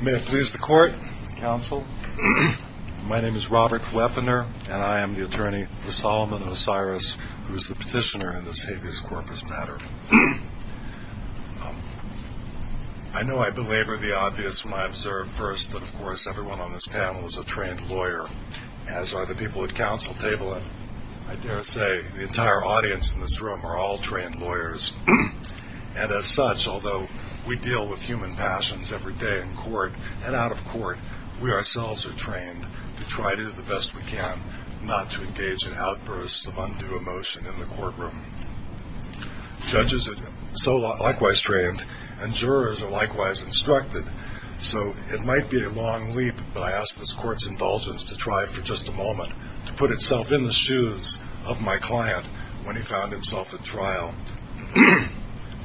May it please the court, counsel. My name is Robert Kleppner and I am the attorney for Solomon Osiris, who is the petitioner in this habeas corpus matter. I know I belabor the obvious when I observe first that of course everyone on this panel is a trained lawyer, as are the people at counsel table, but I dare say the entire audience in this room are all trained lawyers, and as such, although we deal with human passions every day in court and out of court, we ourselves are trained to try to do the best we can not to engage in outbursts of undue emotion in the courtroom. Judges are likewise trained and jurors are likewise instructed, so it might be a long leap, but I ask this court's indulgence to try for just a moment to put itself in the shoes of my client when he found himself at trial,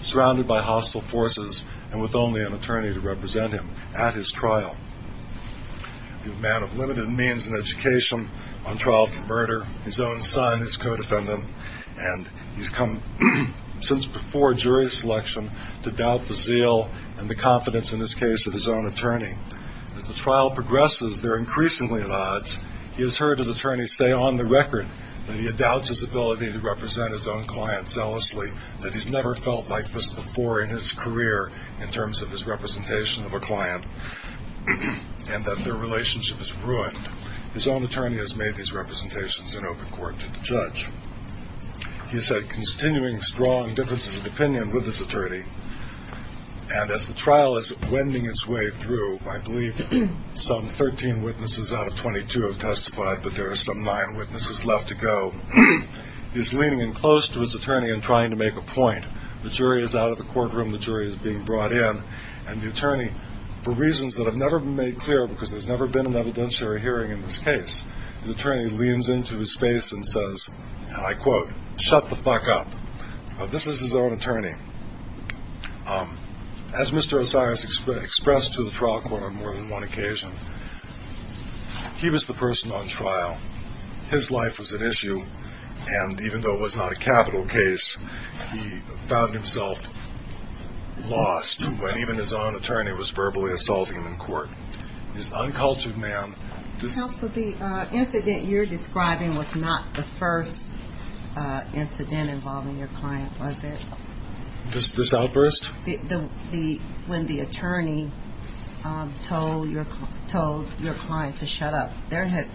surrounded by hostile forces and with only an attorney to represent him at his trial. A man of limited means and education on trial for murder, his own son is co-defendant, and he's come since before jury selection to doubt the zeal and the confidence in this case of his own attorney. As the trial progresses, they're increasingly at odds. He has heard his attorney say on the record that he doubts his ability to represent his own client zealously, that he's never felt like this before in his career in terms of his representation of a client, and that their relationship is ruined. His own attorney has made these representations in open court to the judge. He has had continuing strong differences of opinion with this attorney, and as the trial is wending its way through, I believe some 13 witnesses out of 22 have testified, but there are some nine witnesses left to go. He's leaning in close to his attorney and trying to make a point. The jury is out of the courtroom. The jury is being brought in, and the attorney, for reasons that have never been made clear because there's never been an evidentiary hearing in this case, the attorney leans into his face and says, and I quote, shut the fuck up. This is his own attorney. As Mr. Osiris expressed to the trial court on more than one occasion, he was the person on trial. His life was at issue, and even though it was not a capital case, he found himself lost when even his own attorney was verbally assaulting him in court. He's an uncultured man. Counsel, the incident you're describing was not the first incident involving your client, was it? This outburst? When the attorney told your client to shut up.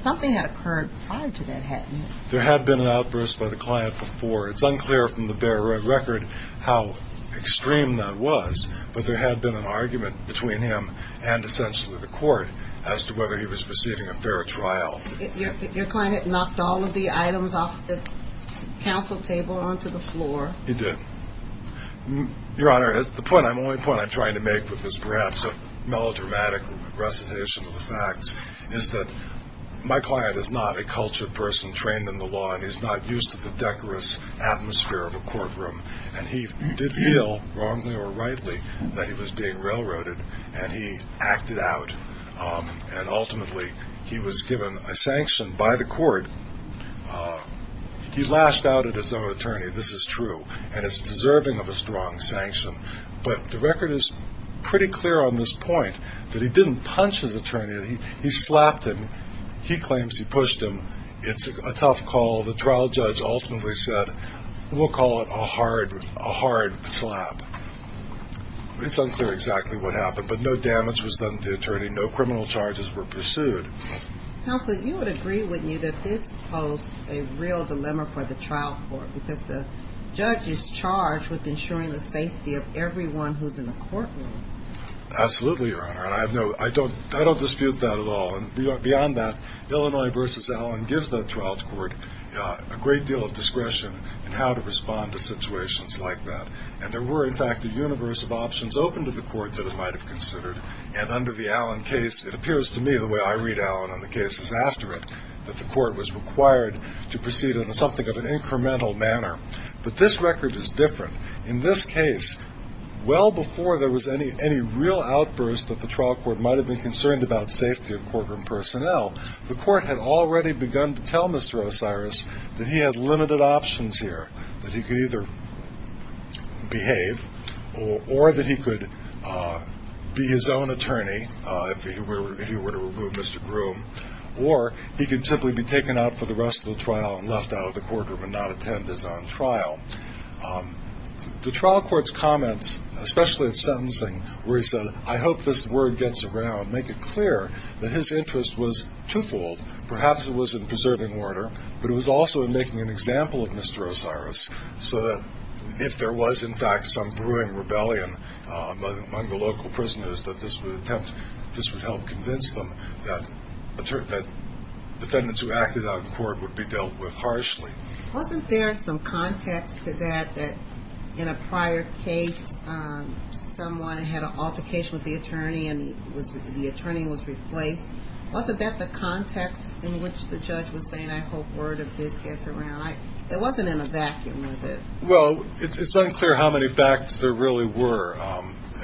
Something had occurred prior to that, hadn't it? There had been an outburst by the client before. It's unclear from the bare record how extreme that was, but there had been an argument between him and essentially the court as to whether he was receiving a fair trial. Your client had knocked all of the items off the counsel table onto the floor. He did. Your Honor, the only point I'm trying to make with this, perhaps a melodramatic recitation of the facts, is that my client is not a cultured person trained in the law, and he's not used to the decorous atmosphere of a courtroom, and he did feel, wrongly or rightly, that he was being railroaded, and he acted out, and ultimately he was given a sanction by the court. He lashed out at his own attorney. This is true, and it's deserving of a strong sanction, but the record is pretty clear on this point that he didn't punch his attorney. He slapped him. He claims he pushed him. It's a tough call. The trial judge ultimately said, we'll call it a hard slap. It's unclear exactly what happened, but no damage was done to the attorney. No criminal charges were pursued. Counsel, you would agree with me that this posed a real dilemma for the trial court because the judge is charged with ensuring the safety of everyone who's in the courtroom. Absolutely, Your Honor, and I don't dispute that at all. Beyond that, Illinois v. Allen gives the trial court a great deal of discretion in how to respond to situations like that, and there were, in fact, a universe of options open to the court that it might have considered, and under the Allen case, it appears to me, the way I read Allen on the cases after it, that the court was required to proceed in something of an incremental manner. But this record is different. In this case, well before there was any real outburst that the trial court might have been concerned about safety of courtroom personnel, the court had already begun to tell Mr. Osiris that he had limited options here, that he could either behave or that he could be his own attorney if he were to remove Mr. Groom, or he could simply be taken out for the rest of the trial and left out of the courtroom and not attend his own trial. The trial court's comments, especially at sentencing, where he said, I hope this word gets around, make it clear that his interest was twofold. Perhaps it was in preserving order, but it was also in making an example of Mr. Osiris so that if there was, in fact, some brewing rebellion among the local prisoners, that this would help convince them that defendants who acted out in court would be dealt with harshly. Wasn't there some context to that, that in a prior case, someone had an altercation with the attorney and the attorney was replaced? Wasn't that the context in which the judge was saying, I hope word of this gets around? It wasn't in a vacuum, was it? Well, it's unclear how many facts there really were.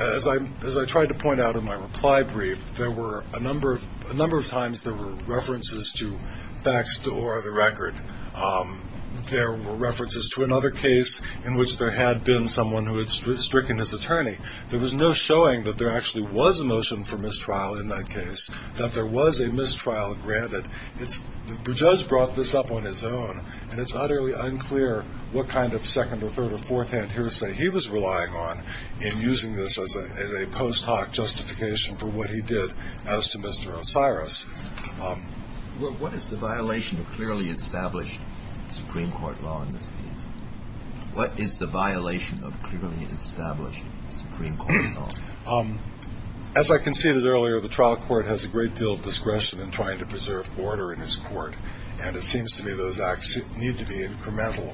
As I tried to point out in my reply brief, there were a number of times there were references to facts or the record. There were references to another case in which there had been someone who had stricken his attorney. There was no showing that there actually was a motion for mistrial in that case, that there was a mistrial granted. The judge brought this up on his own, and it's utterly unclear what kind of second or third or fourth hand hearsay he was relying on in using this as a post hoc justification for what he did as to Mr. Osiris. What is the violation of clearly established Supreme Court law in this case? What is the violation of clearly established Supreme Court law? As I conceded earlier, the trial court has a great deal of discretion in trying to preserve order in his court, and it seems to me those acts need to be incremental.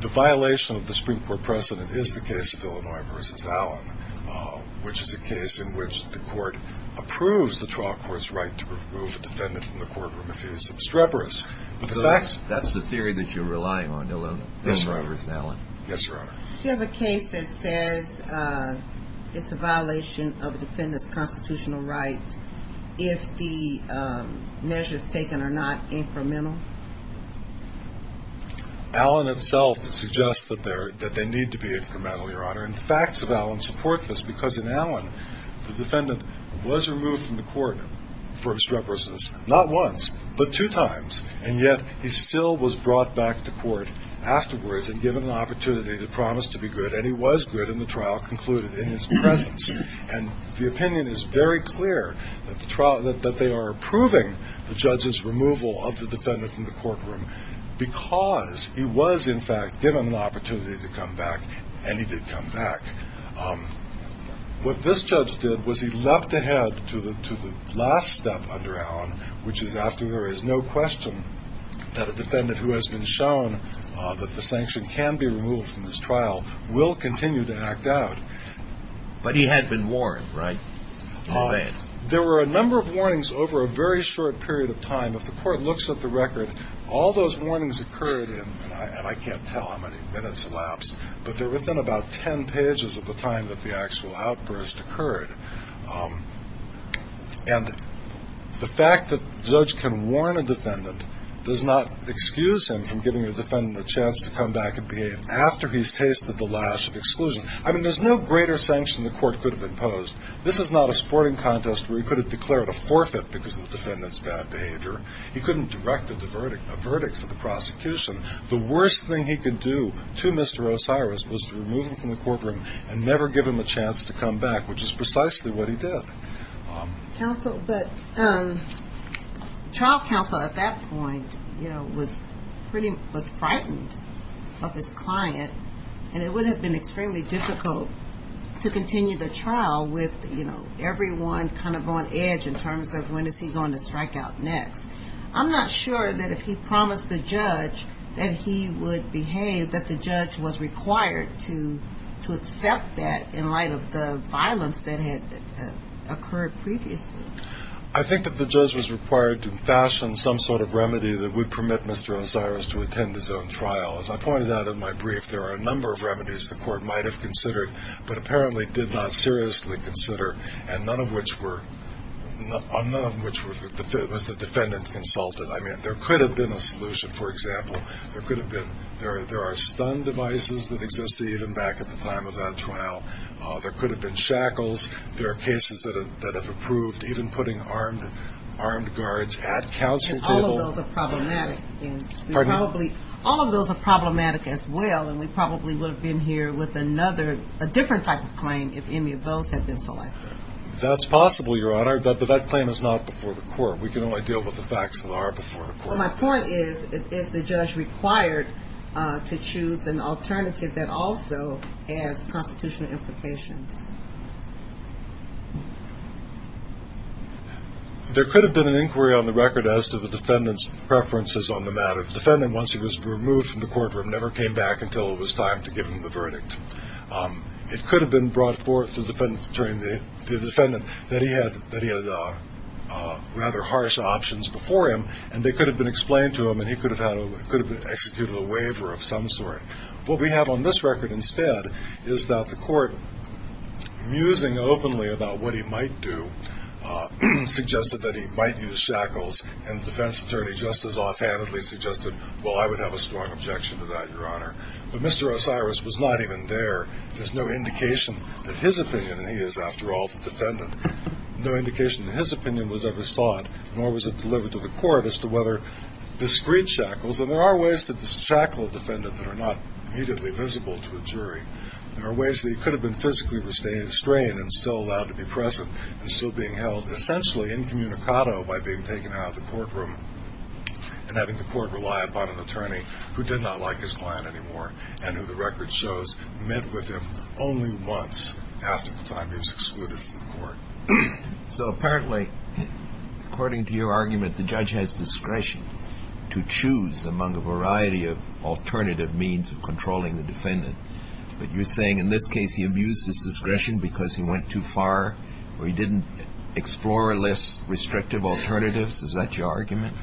The violation of the Supreme Court precedent is the case of Illinois v. Allen, which is a case in which the court approves the trial court's right to remove a defendant from the courtroom if he is obstreperous. That's the theory that you're relying on, Illinois v. Allen? Yes, Your Honor. Do you have a case that says it's a violation of a defendant's constitutional right if the measures taken are not incremental? Allen itself suggests that they need to be incremental, Your Honor, and facts of Allen support this, because in Allen the defendant was removed from the court for obstreperousness not once but two times, and yet he still was brought back to court afterwards and given an opportunity to promise to be good, and he was good, and the trial concluded in his presence. And the opinion is very clear that they are approving the judge's removal of the defendant from the courtroom because he was, in fact, given an opportunity to come back, and he did come back. What this judge did was he leapt ahead to the last step under Allen, which is after there is no question that a defendant who has been shown that the sanction can be removed from this trial will continue to act out. But he had been warned, right, in advance? There were a number of warnings over a very short period of time. If the court looks at the record, all those warnings occurred in, and I can't tell how many minutes elapsed, but they're within about ten pages of the time that the actual outburst occurred. And the fact that a judge can warn a defendant does not excuse him from giving a defendant a chance to come back and behave after he's tasted the lash of exclusion. I mean, there's no greater sanction the court could have imposed. This is not a sporting contest where he could have declared a forfeit because of the defendant's bad behavior. He couldn't have directed a verdict for the prosecution. The worst thing he could do to Mr. Osiris was to remove him from the courtroom and never give him a chance to come back, which is precisely what he did. Counsel, but trial counsel at that point, you know, was pretty, was frightened of his client, and it would have been extremely difficult to continue the trial with, you know, everyone kind of on edge in terms of when is he going to strike out next. I'm not sure that if he promised the judge that he would behave, that the judge was required to accept that in light of the violence that had occurred previously. I think that the judge was required to fashion some sort of remedy that would permit Mr. Osiris to attend his own trial. As I pointed out in my brief, there are a number of remedies the court might have considered but apparently did not seriously consider, and none of which were, none of which was the defendant consulted. I mean, there could have been a solution, for example. There could have been, there are stun devices that existed even back at the time of that trial. There could have been shackles. There are cases that have approved even putting armed guards at counsel table. And all of those are problematic, and we probably, all of those are problematic as well, and we probably would have been here with another, a different type of claim if any of those had been selected. That's possible, Your Honor, but that claim is not before the court. We can only deal with the facts that are before the court. Well, my point is, is the judge required to choose an alternative that also has constitutional implications? There could have been an inquiry on the record as to the defendant's preferences on the matter. The defendant, once he was removed from the courtroom, never came back until it was time to give him the verdict. It could have been brought forth to the defendant that he had rather harsh options before him, and they could have been explained to him, and he could have executed a waiver of some sort. What we have on this record instead is that the court, musing openly about what he might do, suggested that he might use shackles, and the defense attorney just as offhandedly suggested, well, I would have a strong objection to that, Your Honor. But Mr. Osiris was not even there. There's no indication that his opinion, and he is, after all, the defendant, no indication that his opinion was ever sought, nor was it delivered to the court as to whether discreet shackles, and there are ways to shackle a defendant that are not immediately visible to a jury. There are ways that he could have been physically restrained and still allowed to be present and still being held essentially incommunicado by being taken out of the courtroom and having the court rely upon an attorney who did not like his client anymore and who the record shows met with him only once after the time he was excluded from the court. So apparently, according to your argument, the judge has discretion to choose among a variety of alternative means of controlling the defendant. But you're saying in this case he abused his discretion because he went too far or he didn't explore less restrictive alternatives? Is that your argument?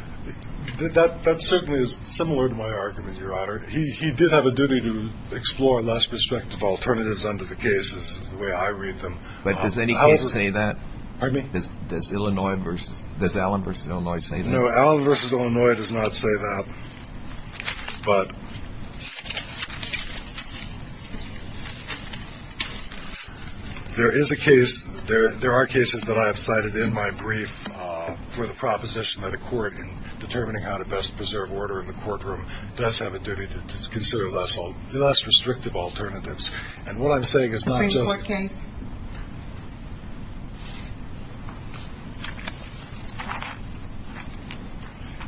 That certainly is similar to my argument, Your Honor. He did have a duty to explore less restrictive alternatives under the cases, the way I read them. But does any case say that? Pardon me? Does Illinois versus – does Allen v. Illinois say that? No, Allen v. Illinois does not say that. But there is a case – there are cases that I have cited in my brief for the proposition that a court, in determining how to best preserve order in the courtroom, does have a duty to consider less restrictive alternatives. And what I'm saying is not just – First court case.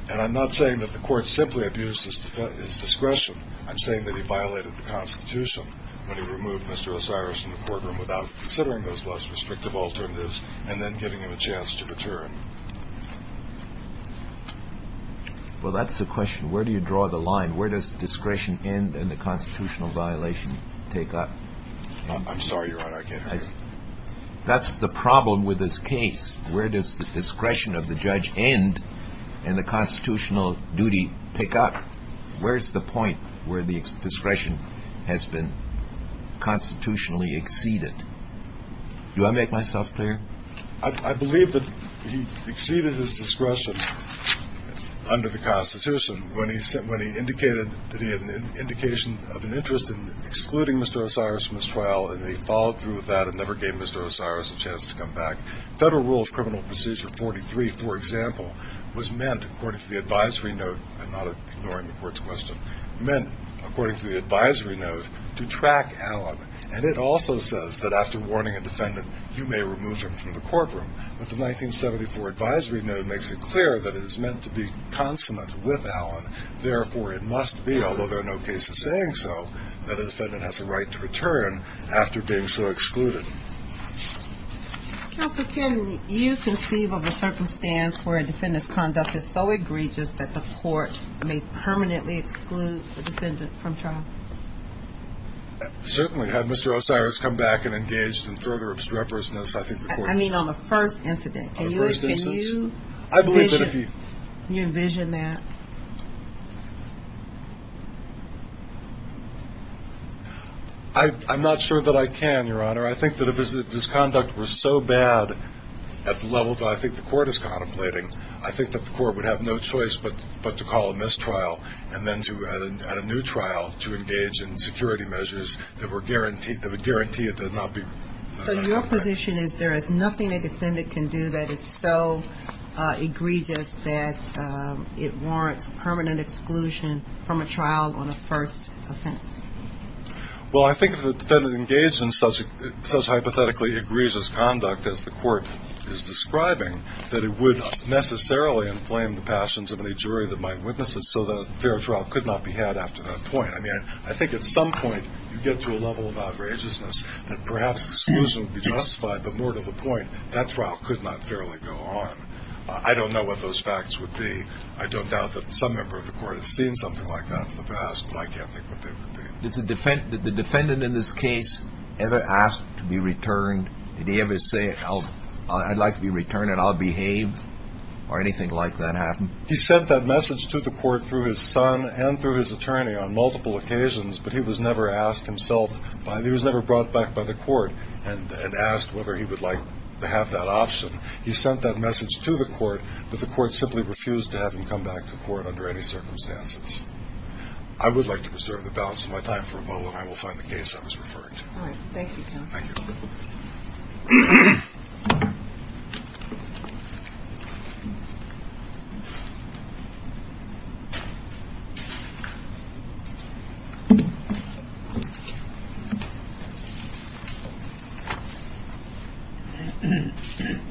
And I'm not saying that the court simply abused his discretion. I'm saying that he violated the Constitution when he removed Mr. Osiris from the courtroom without considering those less restrictive alternatives and then giving him a chance to return. Well, that's the question. Where do you draw the line? Where does discretion end and the constitutional violation take up? I'm sorry, Your Honor. I can't hear you. That's the problem with this case. Where does the discretion of the judge end and the constitutional duty pick up? Where is the point where the discretion has been constitutionally exceeded? Do I make myself clear? I believe that he exceeded his discretion under the Constitution when he indicated that he had an indication of an interest in excluding Mr. Osiris from his trial and he followed through with that and never gave Mr. Osiris a chance to come back. Federal Rule of Criminal Procedure 43, for example, was meant according to the advisory note – I'm not ignoring the court's question – meant according to the advisory note to track Allen. And it also says that after warning a defendant, you may remove them from the courtroom. But the 1974 advisory note makes it clear that it is meant to be consonant with Allen. Therefore, it must be, although there are no cases saying so, that a defendant has a right to return after being so excluded. Counsel, can you conceive of a circumstance where a defendant's conduct is so egregious that the court may permanently exclude the defendant from trial? Certainly. Had Mr. Osiris come back and engaged in further obstreperousness, I think the court would. I mean on the first incident. On the first instance. Do you envision that? I'm not sure that I can, Your Honor. I think that if his conduct was so bad at the level that I think the court is contemplating, I think that the court would have no choice but to call a mistrial and then at a new trial to engage in security measures that would guarantee it would not be. So your position is there is nothing a defendant can do that is so egregious that it warrants permanent exclusion from a trial on a first offense? Well, I think if the defendant engaged in such hypothetically egregious conduct as the court is describing, that it would necessarily inflame the passions of any jury that might witness it so that a fair trial could not be had after that point. I mean, I think at some point you get to a level of outrageousness that perhaps exclusion would be justified, but more to the point, that trial could not fairly go on. I don't know what those facts would be. I don't doubt that some member of the court has seen something like that in the past, but I can't think what they would be. Did the defendant in this case ever ask to be returned? Did he ever say, I'd like to be returned and I'll behave? Or anything like that happen? He sent that message to the court through his son and through his attorney on multiple occasions, but he was never asked himself by the – he was never brought back by the court and asked whether he would like to have that option. He sent that message to the court, but the court simply refused to have him come back to court under any circumstances. I would like to preserve the balance of my time for a moment. I will find the case I was referring to. All right. Thank you, Jennifer.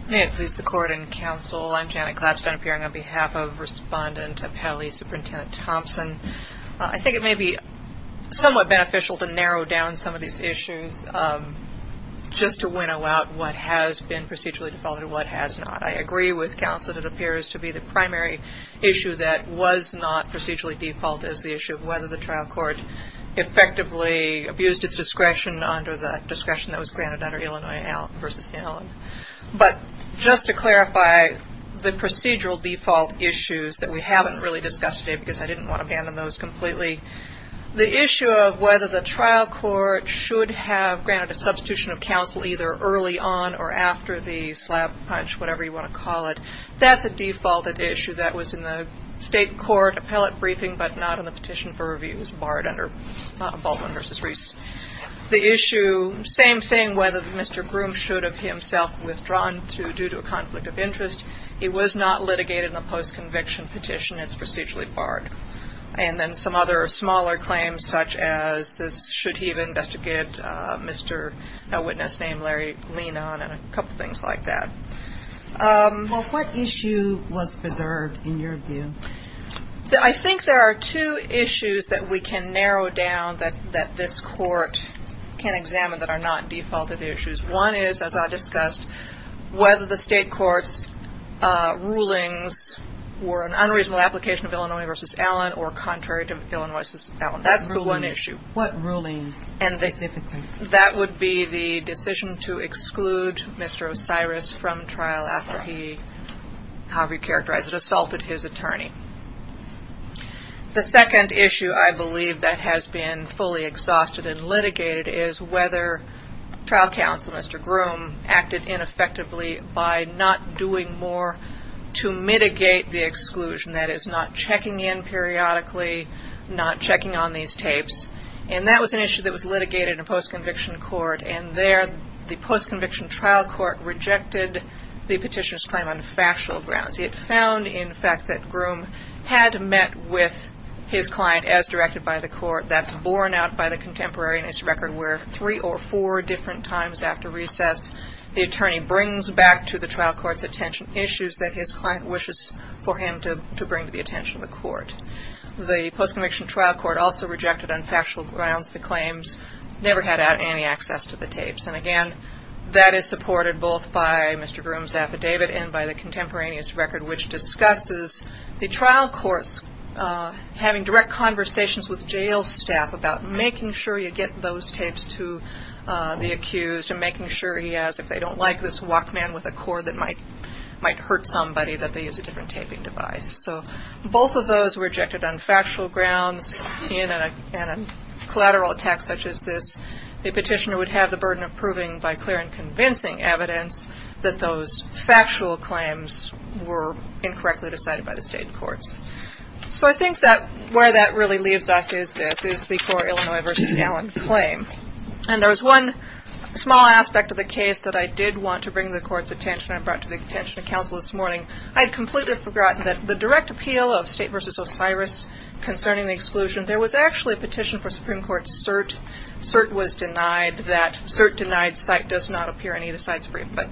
May it please the Court and Counsel, I'm Janet Klapstein appearing on behalf of Respondent Appelli, Superintendent Thompson. I think it may be somewhat beneficial to narrow down some of these issues just to winnow out what has been procedurally defaulted and what has not. I agree with counsel that it appears to be the primary issue that was not procedurally defaulted is the issue of whether the trial court effectively abused its discretion under the discretion that was granted under Illinois v. Allen. But just to clarify, the procedural default issues that we haven't really discussed today because I didn't want to abandon those completely, the issue of whether the trial court should have granted a substitution of counsel either early on or after the slap, punch, whatever you want to call it, that's a defaulted issue that was in the state court appellate briefing but not in the petition for review. It was barred under Baldwin v. Reese. The issue, same thing, whether Mr. Groom should have himself withdrawn due to a conflict of interest, it was not litigated in the post-conviction petition. It's procedurally barred. And then some other smaller claims such as this, should he have investigated Mr. Witness' name, Larry Lenon, and a couple things like that. Well, what issue was preserved in your view? I think there are two issues that we can narrow down that this court can examine that are not defaulted issues. One is, as I discussed, whether the state court's rulings were an unreasonable application of Illinois v. Allen or contrary to Illinois v. Allen. That's the one issue. What rulings specifically? That would be the decision to exclude Mr. Osiris from trial after he, however you characterize it, assaulted his attorney. The second issue I believe that has been fully exhausted and litigated is whether trial counsel, Mr. Groom, acted ineffectively by not doing more to mitigate the exclusion, that is not checking in periodically, not checking on these tapes. And that was an issue that was litigated in a post-conviction court, and there the post-conviction trial court rejected the petitioner's claim on factual grounds. It found, in fact, that Groom had met with his client as directed by the court. That's borne out by the contemporaneous record where three or four different times after recess, the attorney brings back to the trial court's attention issues that his client wishes for him to bring to the attention of the court. The post-conviction trial court also rejected on factual grounds the claims, never had any access to the tapes. And, again, that is supported both by Mr. Groom's affidavit and by the contemporaneous record, which discusses the trial courts having direct conversations with jail staff about making sure you get those tapes to the accused and making sure he has, if they don't like this walkman with a cord that might hurt somebody, that they use a different taping device. So both of those were rejected on factual grounds in a collateral attack such as this. The petitioner would have the burden of proving by clear and convincing evidence that those factual claims were incorrectly decided by the state courts. So I think that where that really leaves us is this, is the core Illinois v. Allen claim. And there was one small aspect of the case that I did want to bring to the court's attention and brought to the attention of counsel this morning. I had completely forgotten that the direct appeal of State v. Osiris concerning the exclusion, there was actually a petition for Supreme Court cert. Cert was denied. That cert-denied site does not appear in either side's brief. But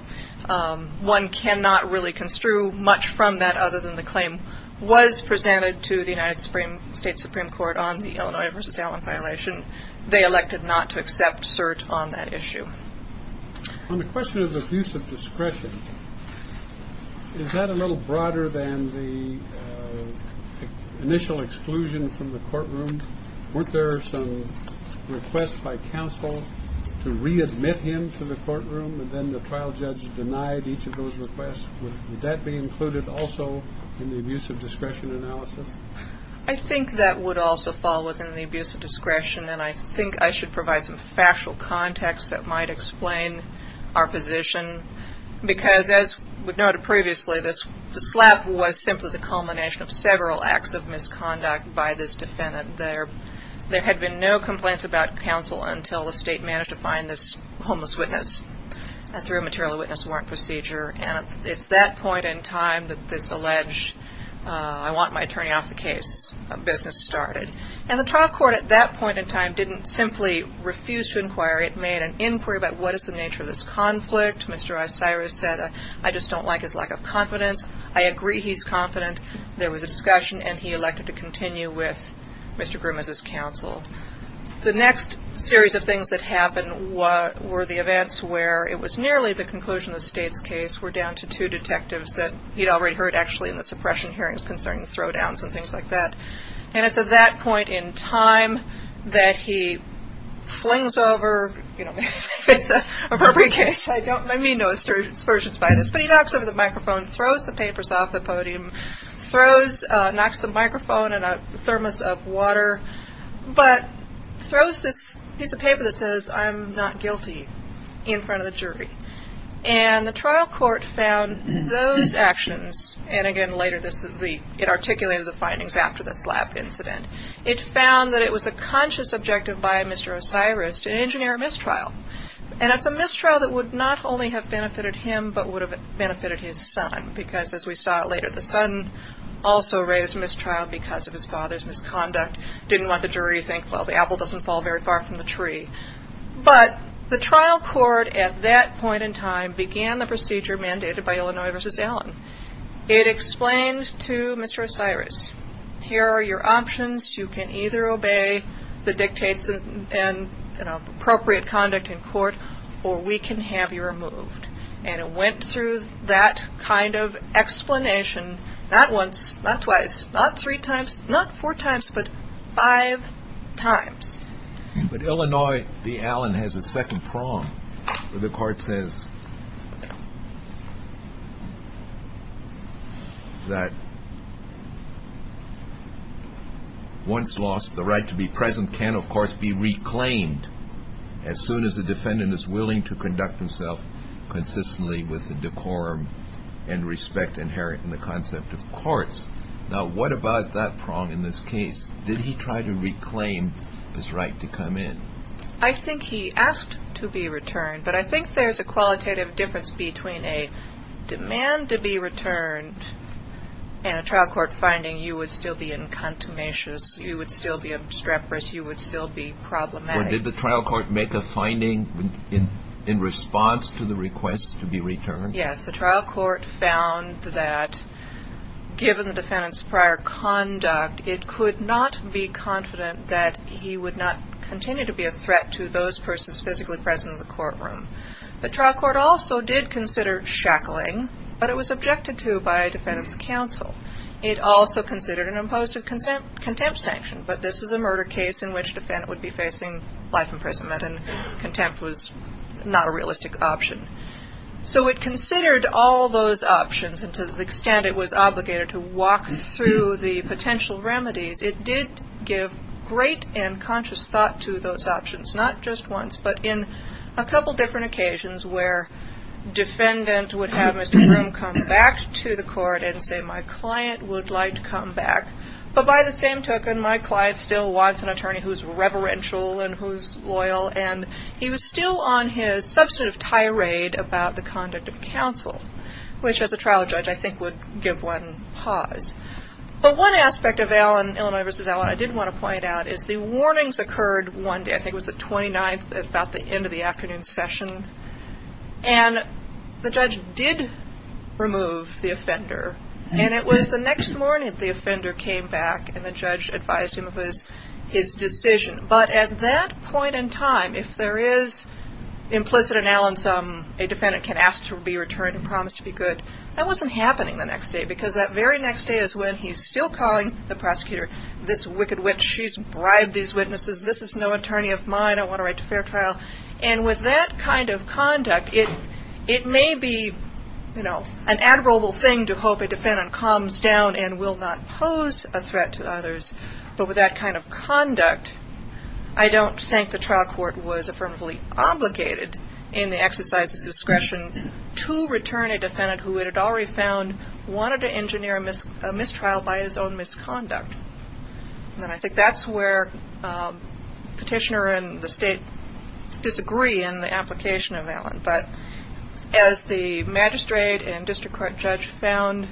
one cannot really construe much from that other than the claim was presented to the United States Supreme Court on the Illinois v. Allen violation. They elected not to accept cert on that issue. On the question of abuse of discretion, is that a little broader than the initial exclusion from the courtroom? Weren't there some requests by counsel to readmit him to the courtroom, and then the trial judge denied each of those requests? Would that be included also in the abuse of discretion analysis? I think that would also fall within the abuse of discretion, and I think I should provide some factual context that might explain our position. Because as noted previously, this slap was simply the culmination of several acts of misconduct by this defendant. There had been no complaints about counsel until the State managed to find this homeless witness through a material witness warrant procedure. And it's that point in time that this alleged, I want my attorney off the case, business started. And the trial court at that point in time didn't simply refuse to inquire. It made an inquiry about what is the nature of this conflict. Mr. Osiris said, I just don't like his lack of confidence. I agree he's confident. There was a discussion, and he elected to continue with Mr. Grim as his counsel. The next series of things that happened were the events where it was nearly the conclusion of the State's case were down to two detectives that he'd already heard actually in the suppression hearings concerning the throwdowns and things like that. And it's at that point in time that he flings over, you know, if it's an appropriate case, I mean no assertions by this, but he knocks over the microphone, throws the papers off the podium, knocks the microphone in a thermos of water, but throws this piece of paper that says I'm not guilty in front of the jury. And the trial court found those actions, and again later it articulated the findings after the slap incident. It found that it was a conscious objective by Mr. Osiris to engineer a mistrial. And it's a mistrial that would not only have benefited him but would have benefited his son because, as we saw later, the son also raised mistrial because of his father's misconduct, didn't want the jury to think, well, the apple doesn't fall very far from the tree. But the trial court at that point in time began the procedure mandated by Illinois v. Allen. It explained to Mr. Osiris, here are your options. You can either obey the dictates and appropriate conduct in court, or we can have you removed. And it went through that kind of explanation not once, not twice, not three times, not four times, but five times. But Illinois v. Allen has a second prong where the court says that once lost, the right to be present can, of course, be reclaimed as soon as the defendant is willing to conduct himself consistently with the decorum and respect inherent in the concept of courts. Now, what about that prong in this case? Did he try to reclaim his right to come in? I think he asked to be returned, but I think there's a qualitative difference between a demand to be returned and a trial court finding you would still be incontumacious, you would still be obstreperous, you would still be problematic. Or did the trial court make a finding in response to the request to be returned? Yes, the trial court found that given the defendant's prior conduct, it could not be confident that he would not continue to be a threat to those persons physically present in the courtroom. The trial court also did consider shackling, but it was objected to by a defendant's counsel. It also considered an imposed contempt sanction, but this is a murder case in which the defendant would be facing life imprisonment, and contempt was not a realistic option. So it considered all those options, and to the extent it was obligated to walk through the potential remedies, it did give great and conscious thought to those options, not just once, but in a couple different occasions where defendant would have Mr. Broome come back to the court and say, my client would like to come back, but by the same token, my client still wants an attorney who's reverential and who's loyal, and he was still on his substantive tirade about the conduct of counsel, which as a trial judge I think would give one pause. But one aspect of Illinois v. Allen I did want to point out is the warnings occurred one day. I think it was the 29th at about the end of the afternoon session, and the judge did remove the offender, and it was the next morning that the offender came back, and the judge advised him it was his decision. But at that point in time, if there is implicit in Allen's, a defendant can ask to be returned and promised to be good, that wasn't happening the next day, because that very next day is when he's still calling the prosecutor, this wicked witch, she's bribed these witnesses, this is no attorney of mine, I want to write a fair trial. And with that kind of conduct, it may be an admirable thing to hope a defendant calms down and will not pose a threat to others, but with that kind of conduct, I don't think the trial court was affirmatively obligated in the exercise of its discretion to return a defendant who it had already found wanted to engineer a mistrial by his own misconduct. And I think that's where Petitioner and the State disagree in the application of Allen. But as the magistrate and district court judge found,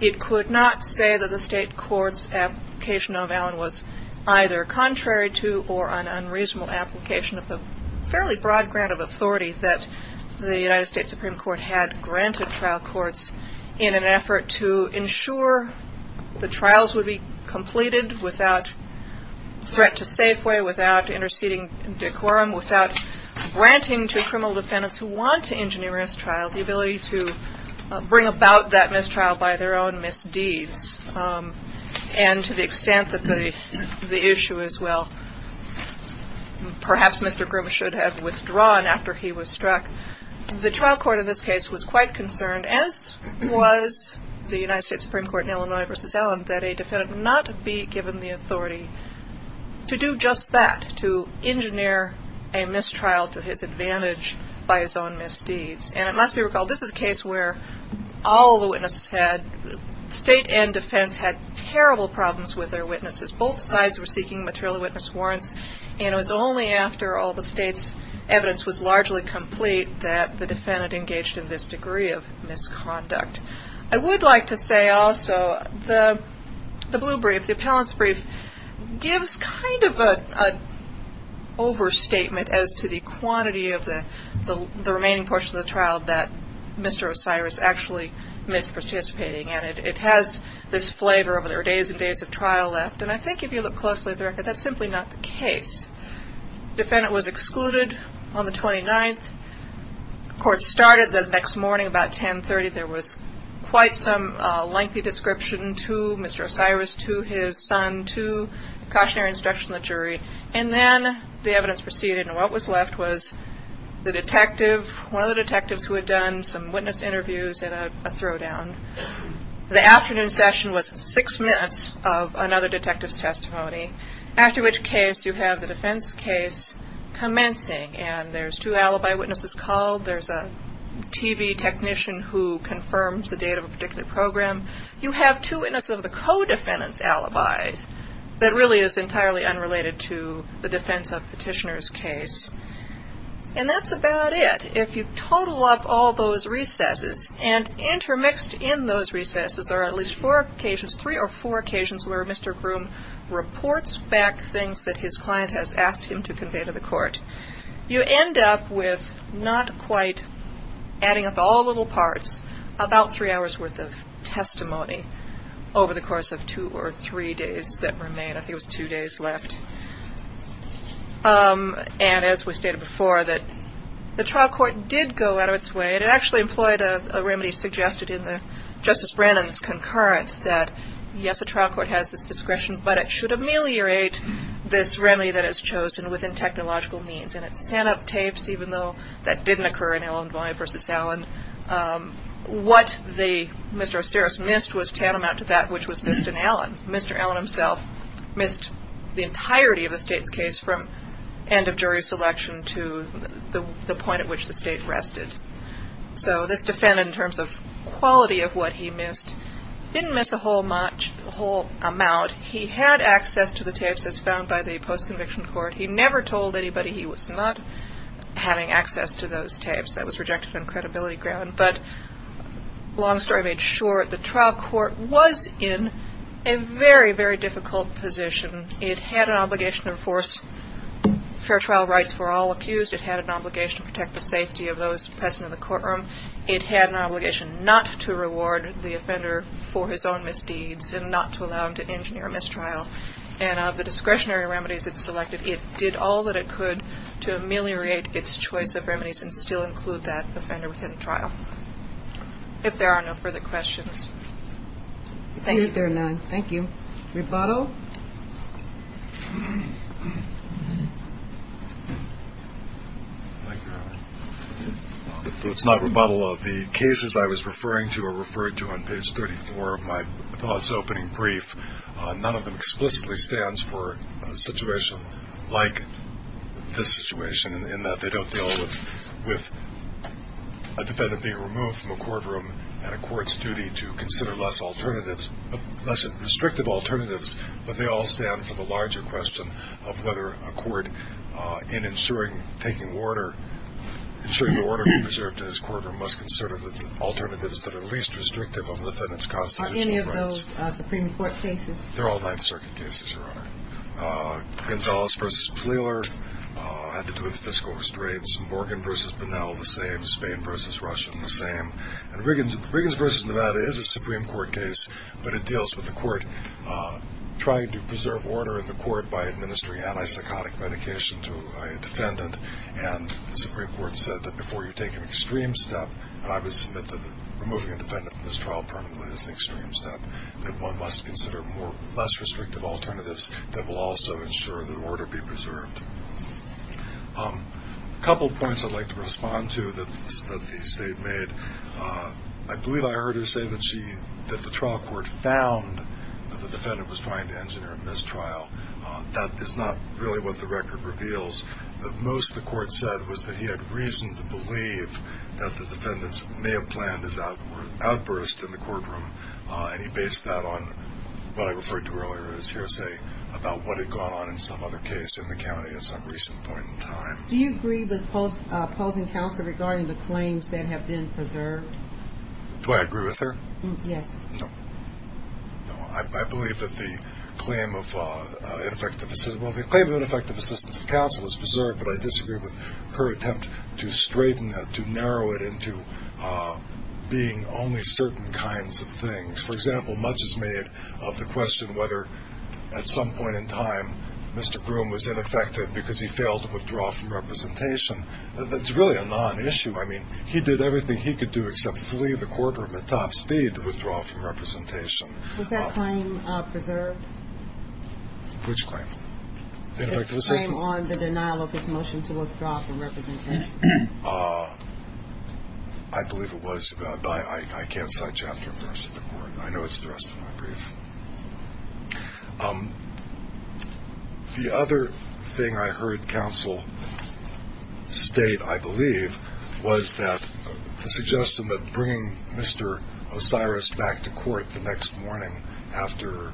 it could not say that the state court's application of Allen was either contrary to or an unreasonable application of the fairly broad ground of authority that the United States Supreme Court had granted trial courts in an effort to ensure the trials would be completed without threat to Safeway, without interceding decorum, without granting to criminal defendants who want to engineer a mistrial the ability to bring about that mistrial by their own misdeeds. And to the extent that the issue is, well, perhaps Mr. Groom should have withdrawn after he was struck, the trial court in this case was quite concerned, as was the United States Supreme Court in Illinois v. Allen, that a defendant would not be given the authority to do just that, to engineer a mistrial to his advantage by his own misdeeds. And it must be recalled, this is a case where all the witnesses had, State and defense, had terrible problems with their witnesses. Both sides were seeking material witness warrants, and it was only after all the State's evidence was largely complete that the defendant engaged in this degree of misconduct. I would like to say also, the blue brief, the appellant's brief, gives kind of an overstatement as to the quantity of the remaining portion of the trial that Mr. Osiris actually missed participating in. It has this flavor of there are days and days of trial left, and I think if you look closely at the record, that's simply not the case. The defendant was excluded on the 29th. The court started the next morning about 10.30. There was quite some lengthy description to Mr. Osiris, to his son, to the cautionary instruction of the jury. And then the evidence proceeded, and what was left was the detective, one of the detectives who had done some witness interviews and a throwdown. The afternoon session was six minutes of another detective's testimony, after which case you have the defense case commencing, and there's two alibi witnesses called. There's a TV technician who confirms the date of a particular program. You have two witnesses of the co-defendant's alibis that really is entirely unrelated to the defense of petitioner's case. And that's about it. And if you total up all those recesses, and intermixed in those recesses are at least four occasions, three or four occasions, where Mr. Groom reports back things that his client has asked him to convey to the court, you end up with not quite adding up all the little parts, about three hours' worth of testimony over the course of two or three days that remain. I think it was two days left. And as we stated before, the trial court did go out of its way. It actually employed a remedy suggested in Justice Brannon's concurrence that, yes, a trial court has this discretion, but it should ameliorate this remedy that it's chosen within technological means. And it sent up tapes, even though that didn't occur in Allen v. Allen. What Mr. Osiris missed was tantamount to that which was missed in Allen. Mr. Allen himself missed the entirety of the state's case from end of jury selection to the point at which the state rested. So this defendant, in terms of quality of what he missed, didn't miss a whole much, a whole amount. He had access to the tapes as found by the post-conviction court. He never told anybody he was not having access to those tapes. That was rejected on credibility ground. But long story made short, the trial court was in a very, very difficult position. It had an obligation to enforce fair trial rights for all accused. It had an obligation to protect the safety of those present in the courtroom. It had an obligation not to reward the offender for his own misdeeds and not to allow him to engineer a mistrial. And of the discretionary remedies it selected, it did all that it could to ameliorate its choice of remedies and still include that offender within the trial. If there are no further questions. Thank you. Thank you. Rebuttal. It's not rebuttal of the cases I was referring to or referred to on page 34 of my thoughts opening brief. None of them explicitly stands for a situation like this situation, in that they don't deal with a defendant being removed from a courtroom and a court's duty to consider less alternatives, less restrictive alternatives. But they all stand for the larger question of whether a court, in ensuring taking order, ensuring the order to be preserved in its courtroom, must consider the alternatives that are least restrictive of the defendant's constitutional rights. Are those Supreme Court cases? They're all Ninth Circuit cases, Your Honor. Gonzales v. Plealer had to do with fiscal restraints. Morgan v. Bunnell, the same. Spain v. Russian, the same. And Riggins v. Nevada is a Supreme Court case, but it deals with the court trying to preserve order in the court by administering anti-psychotic medication to a defendant. And the Supreme Court said that before you take an extreme step, and I would submit that removing a defendant from this trial permanently is an extreme step, that one must consider less restrictive alternatives that will also ensure that order be preserved. A couple of points I'd like to respond to that the State made. I believe I heard her say that the trial court found that the defendant was trying to engineer a mistrial. That is not really what the record reveals. What most of the court said was that he had reason to believe that the defendants may have planned his outburst in the courtroom, and he based that on what I referred to earlier as hearsay about what had gone on in some other case in the county at some recent point in time. Do you agree with opposing counsel regarding the claims that have been preserved? Do I agree with her? Yes. No. I believe that the claim of ineffective assistance of counsel is preserved, but I disagree with her attempt to straighten it, to narrow it into being only certain kinds of things. For example, much is made of the question whether at some point in time Mr. Groom was ineffective because he failed to withdraw from representation. That's really a non-issue. I mean, he did everything he could do except flee the courtroom at top speed to withdraw from representation. Was that claim preserved? Which claim? Ineffective assistance. The claim on the denial of his motion to withdraw from representation. I believe it was, but I can't cite chapter and verse in the court. I know it's addressed in my brief. The other thing I heard counsel state, I believe, was that the suggestion that bringing Mr. Osiris back to court the next morning after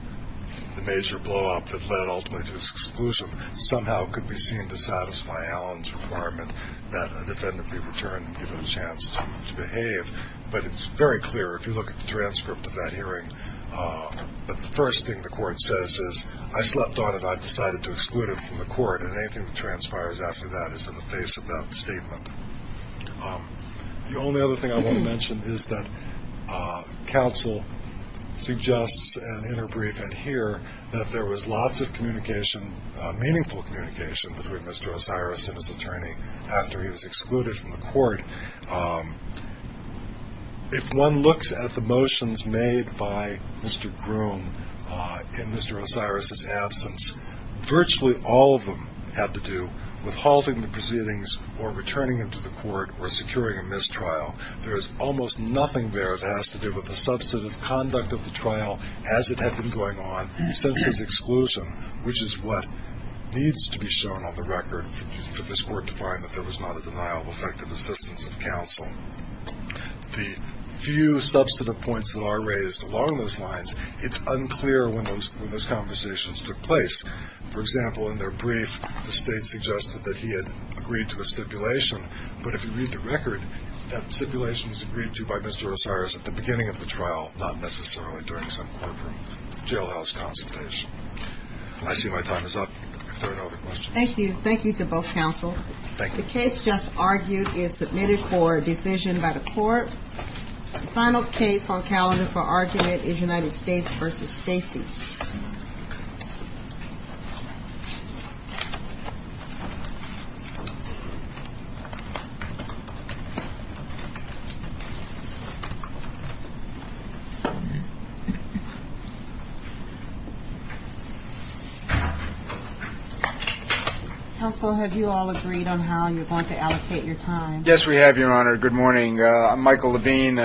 the major blowup that led ultimately to his exclusion somehow could be seen to satisfy Allen's requirement that a defendant be returned and given a chance to behave. But it's very clear, if you look at the transcript of that hearing, that the first thing the court says is, I slept on it. I've decided to exclude it from the court. And anything that transpires after that is in the face of that statement. The only other thing I want to mention is that counsel suggests in her brief in here that there was lots of communication, meaningful communication, between Mr. Osiris and his attorney after he was excluded from the court. If one looks at the motions made by Mr. Groom in Mr. Osiris' absence, virtually all of them had to do with halting the proceedings or returning him to the court or securing a mistrial. There is almost nothing there that has to do with the substantive conduct of the trial as it had been going on since his exclusion, which is what needs to be shown on the record for this court to find that there was not a denial of effective assistance of counsel. The few substantive points that are raised along those lines, it's unclear when those conversations took place. For example, in their brief, the State suggested that he had agreed to a stipulation, but if you read the record, that stipulation was agreed to by Mr. Osiris at the beginning of the trial, not necessarily during some courtroom jailhouse consultation. I see my time is up. If there are no other questions. Thank you. Thank you to both counsel. Thank you. The case just argued is submitted for decision by the court. The final case on calendar for argument is United States v. Stacy. Counsel, have you all agreed on how you're going to allocate your time? Yes, we have, Your Honor. Good morning. I'm Michael Levine.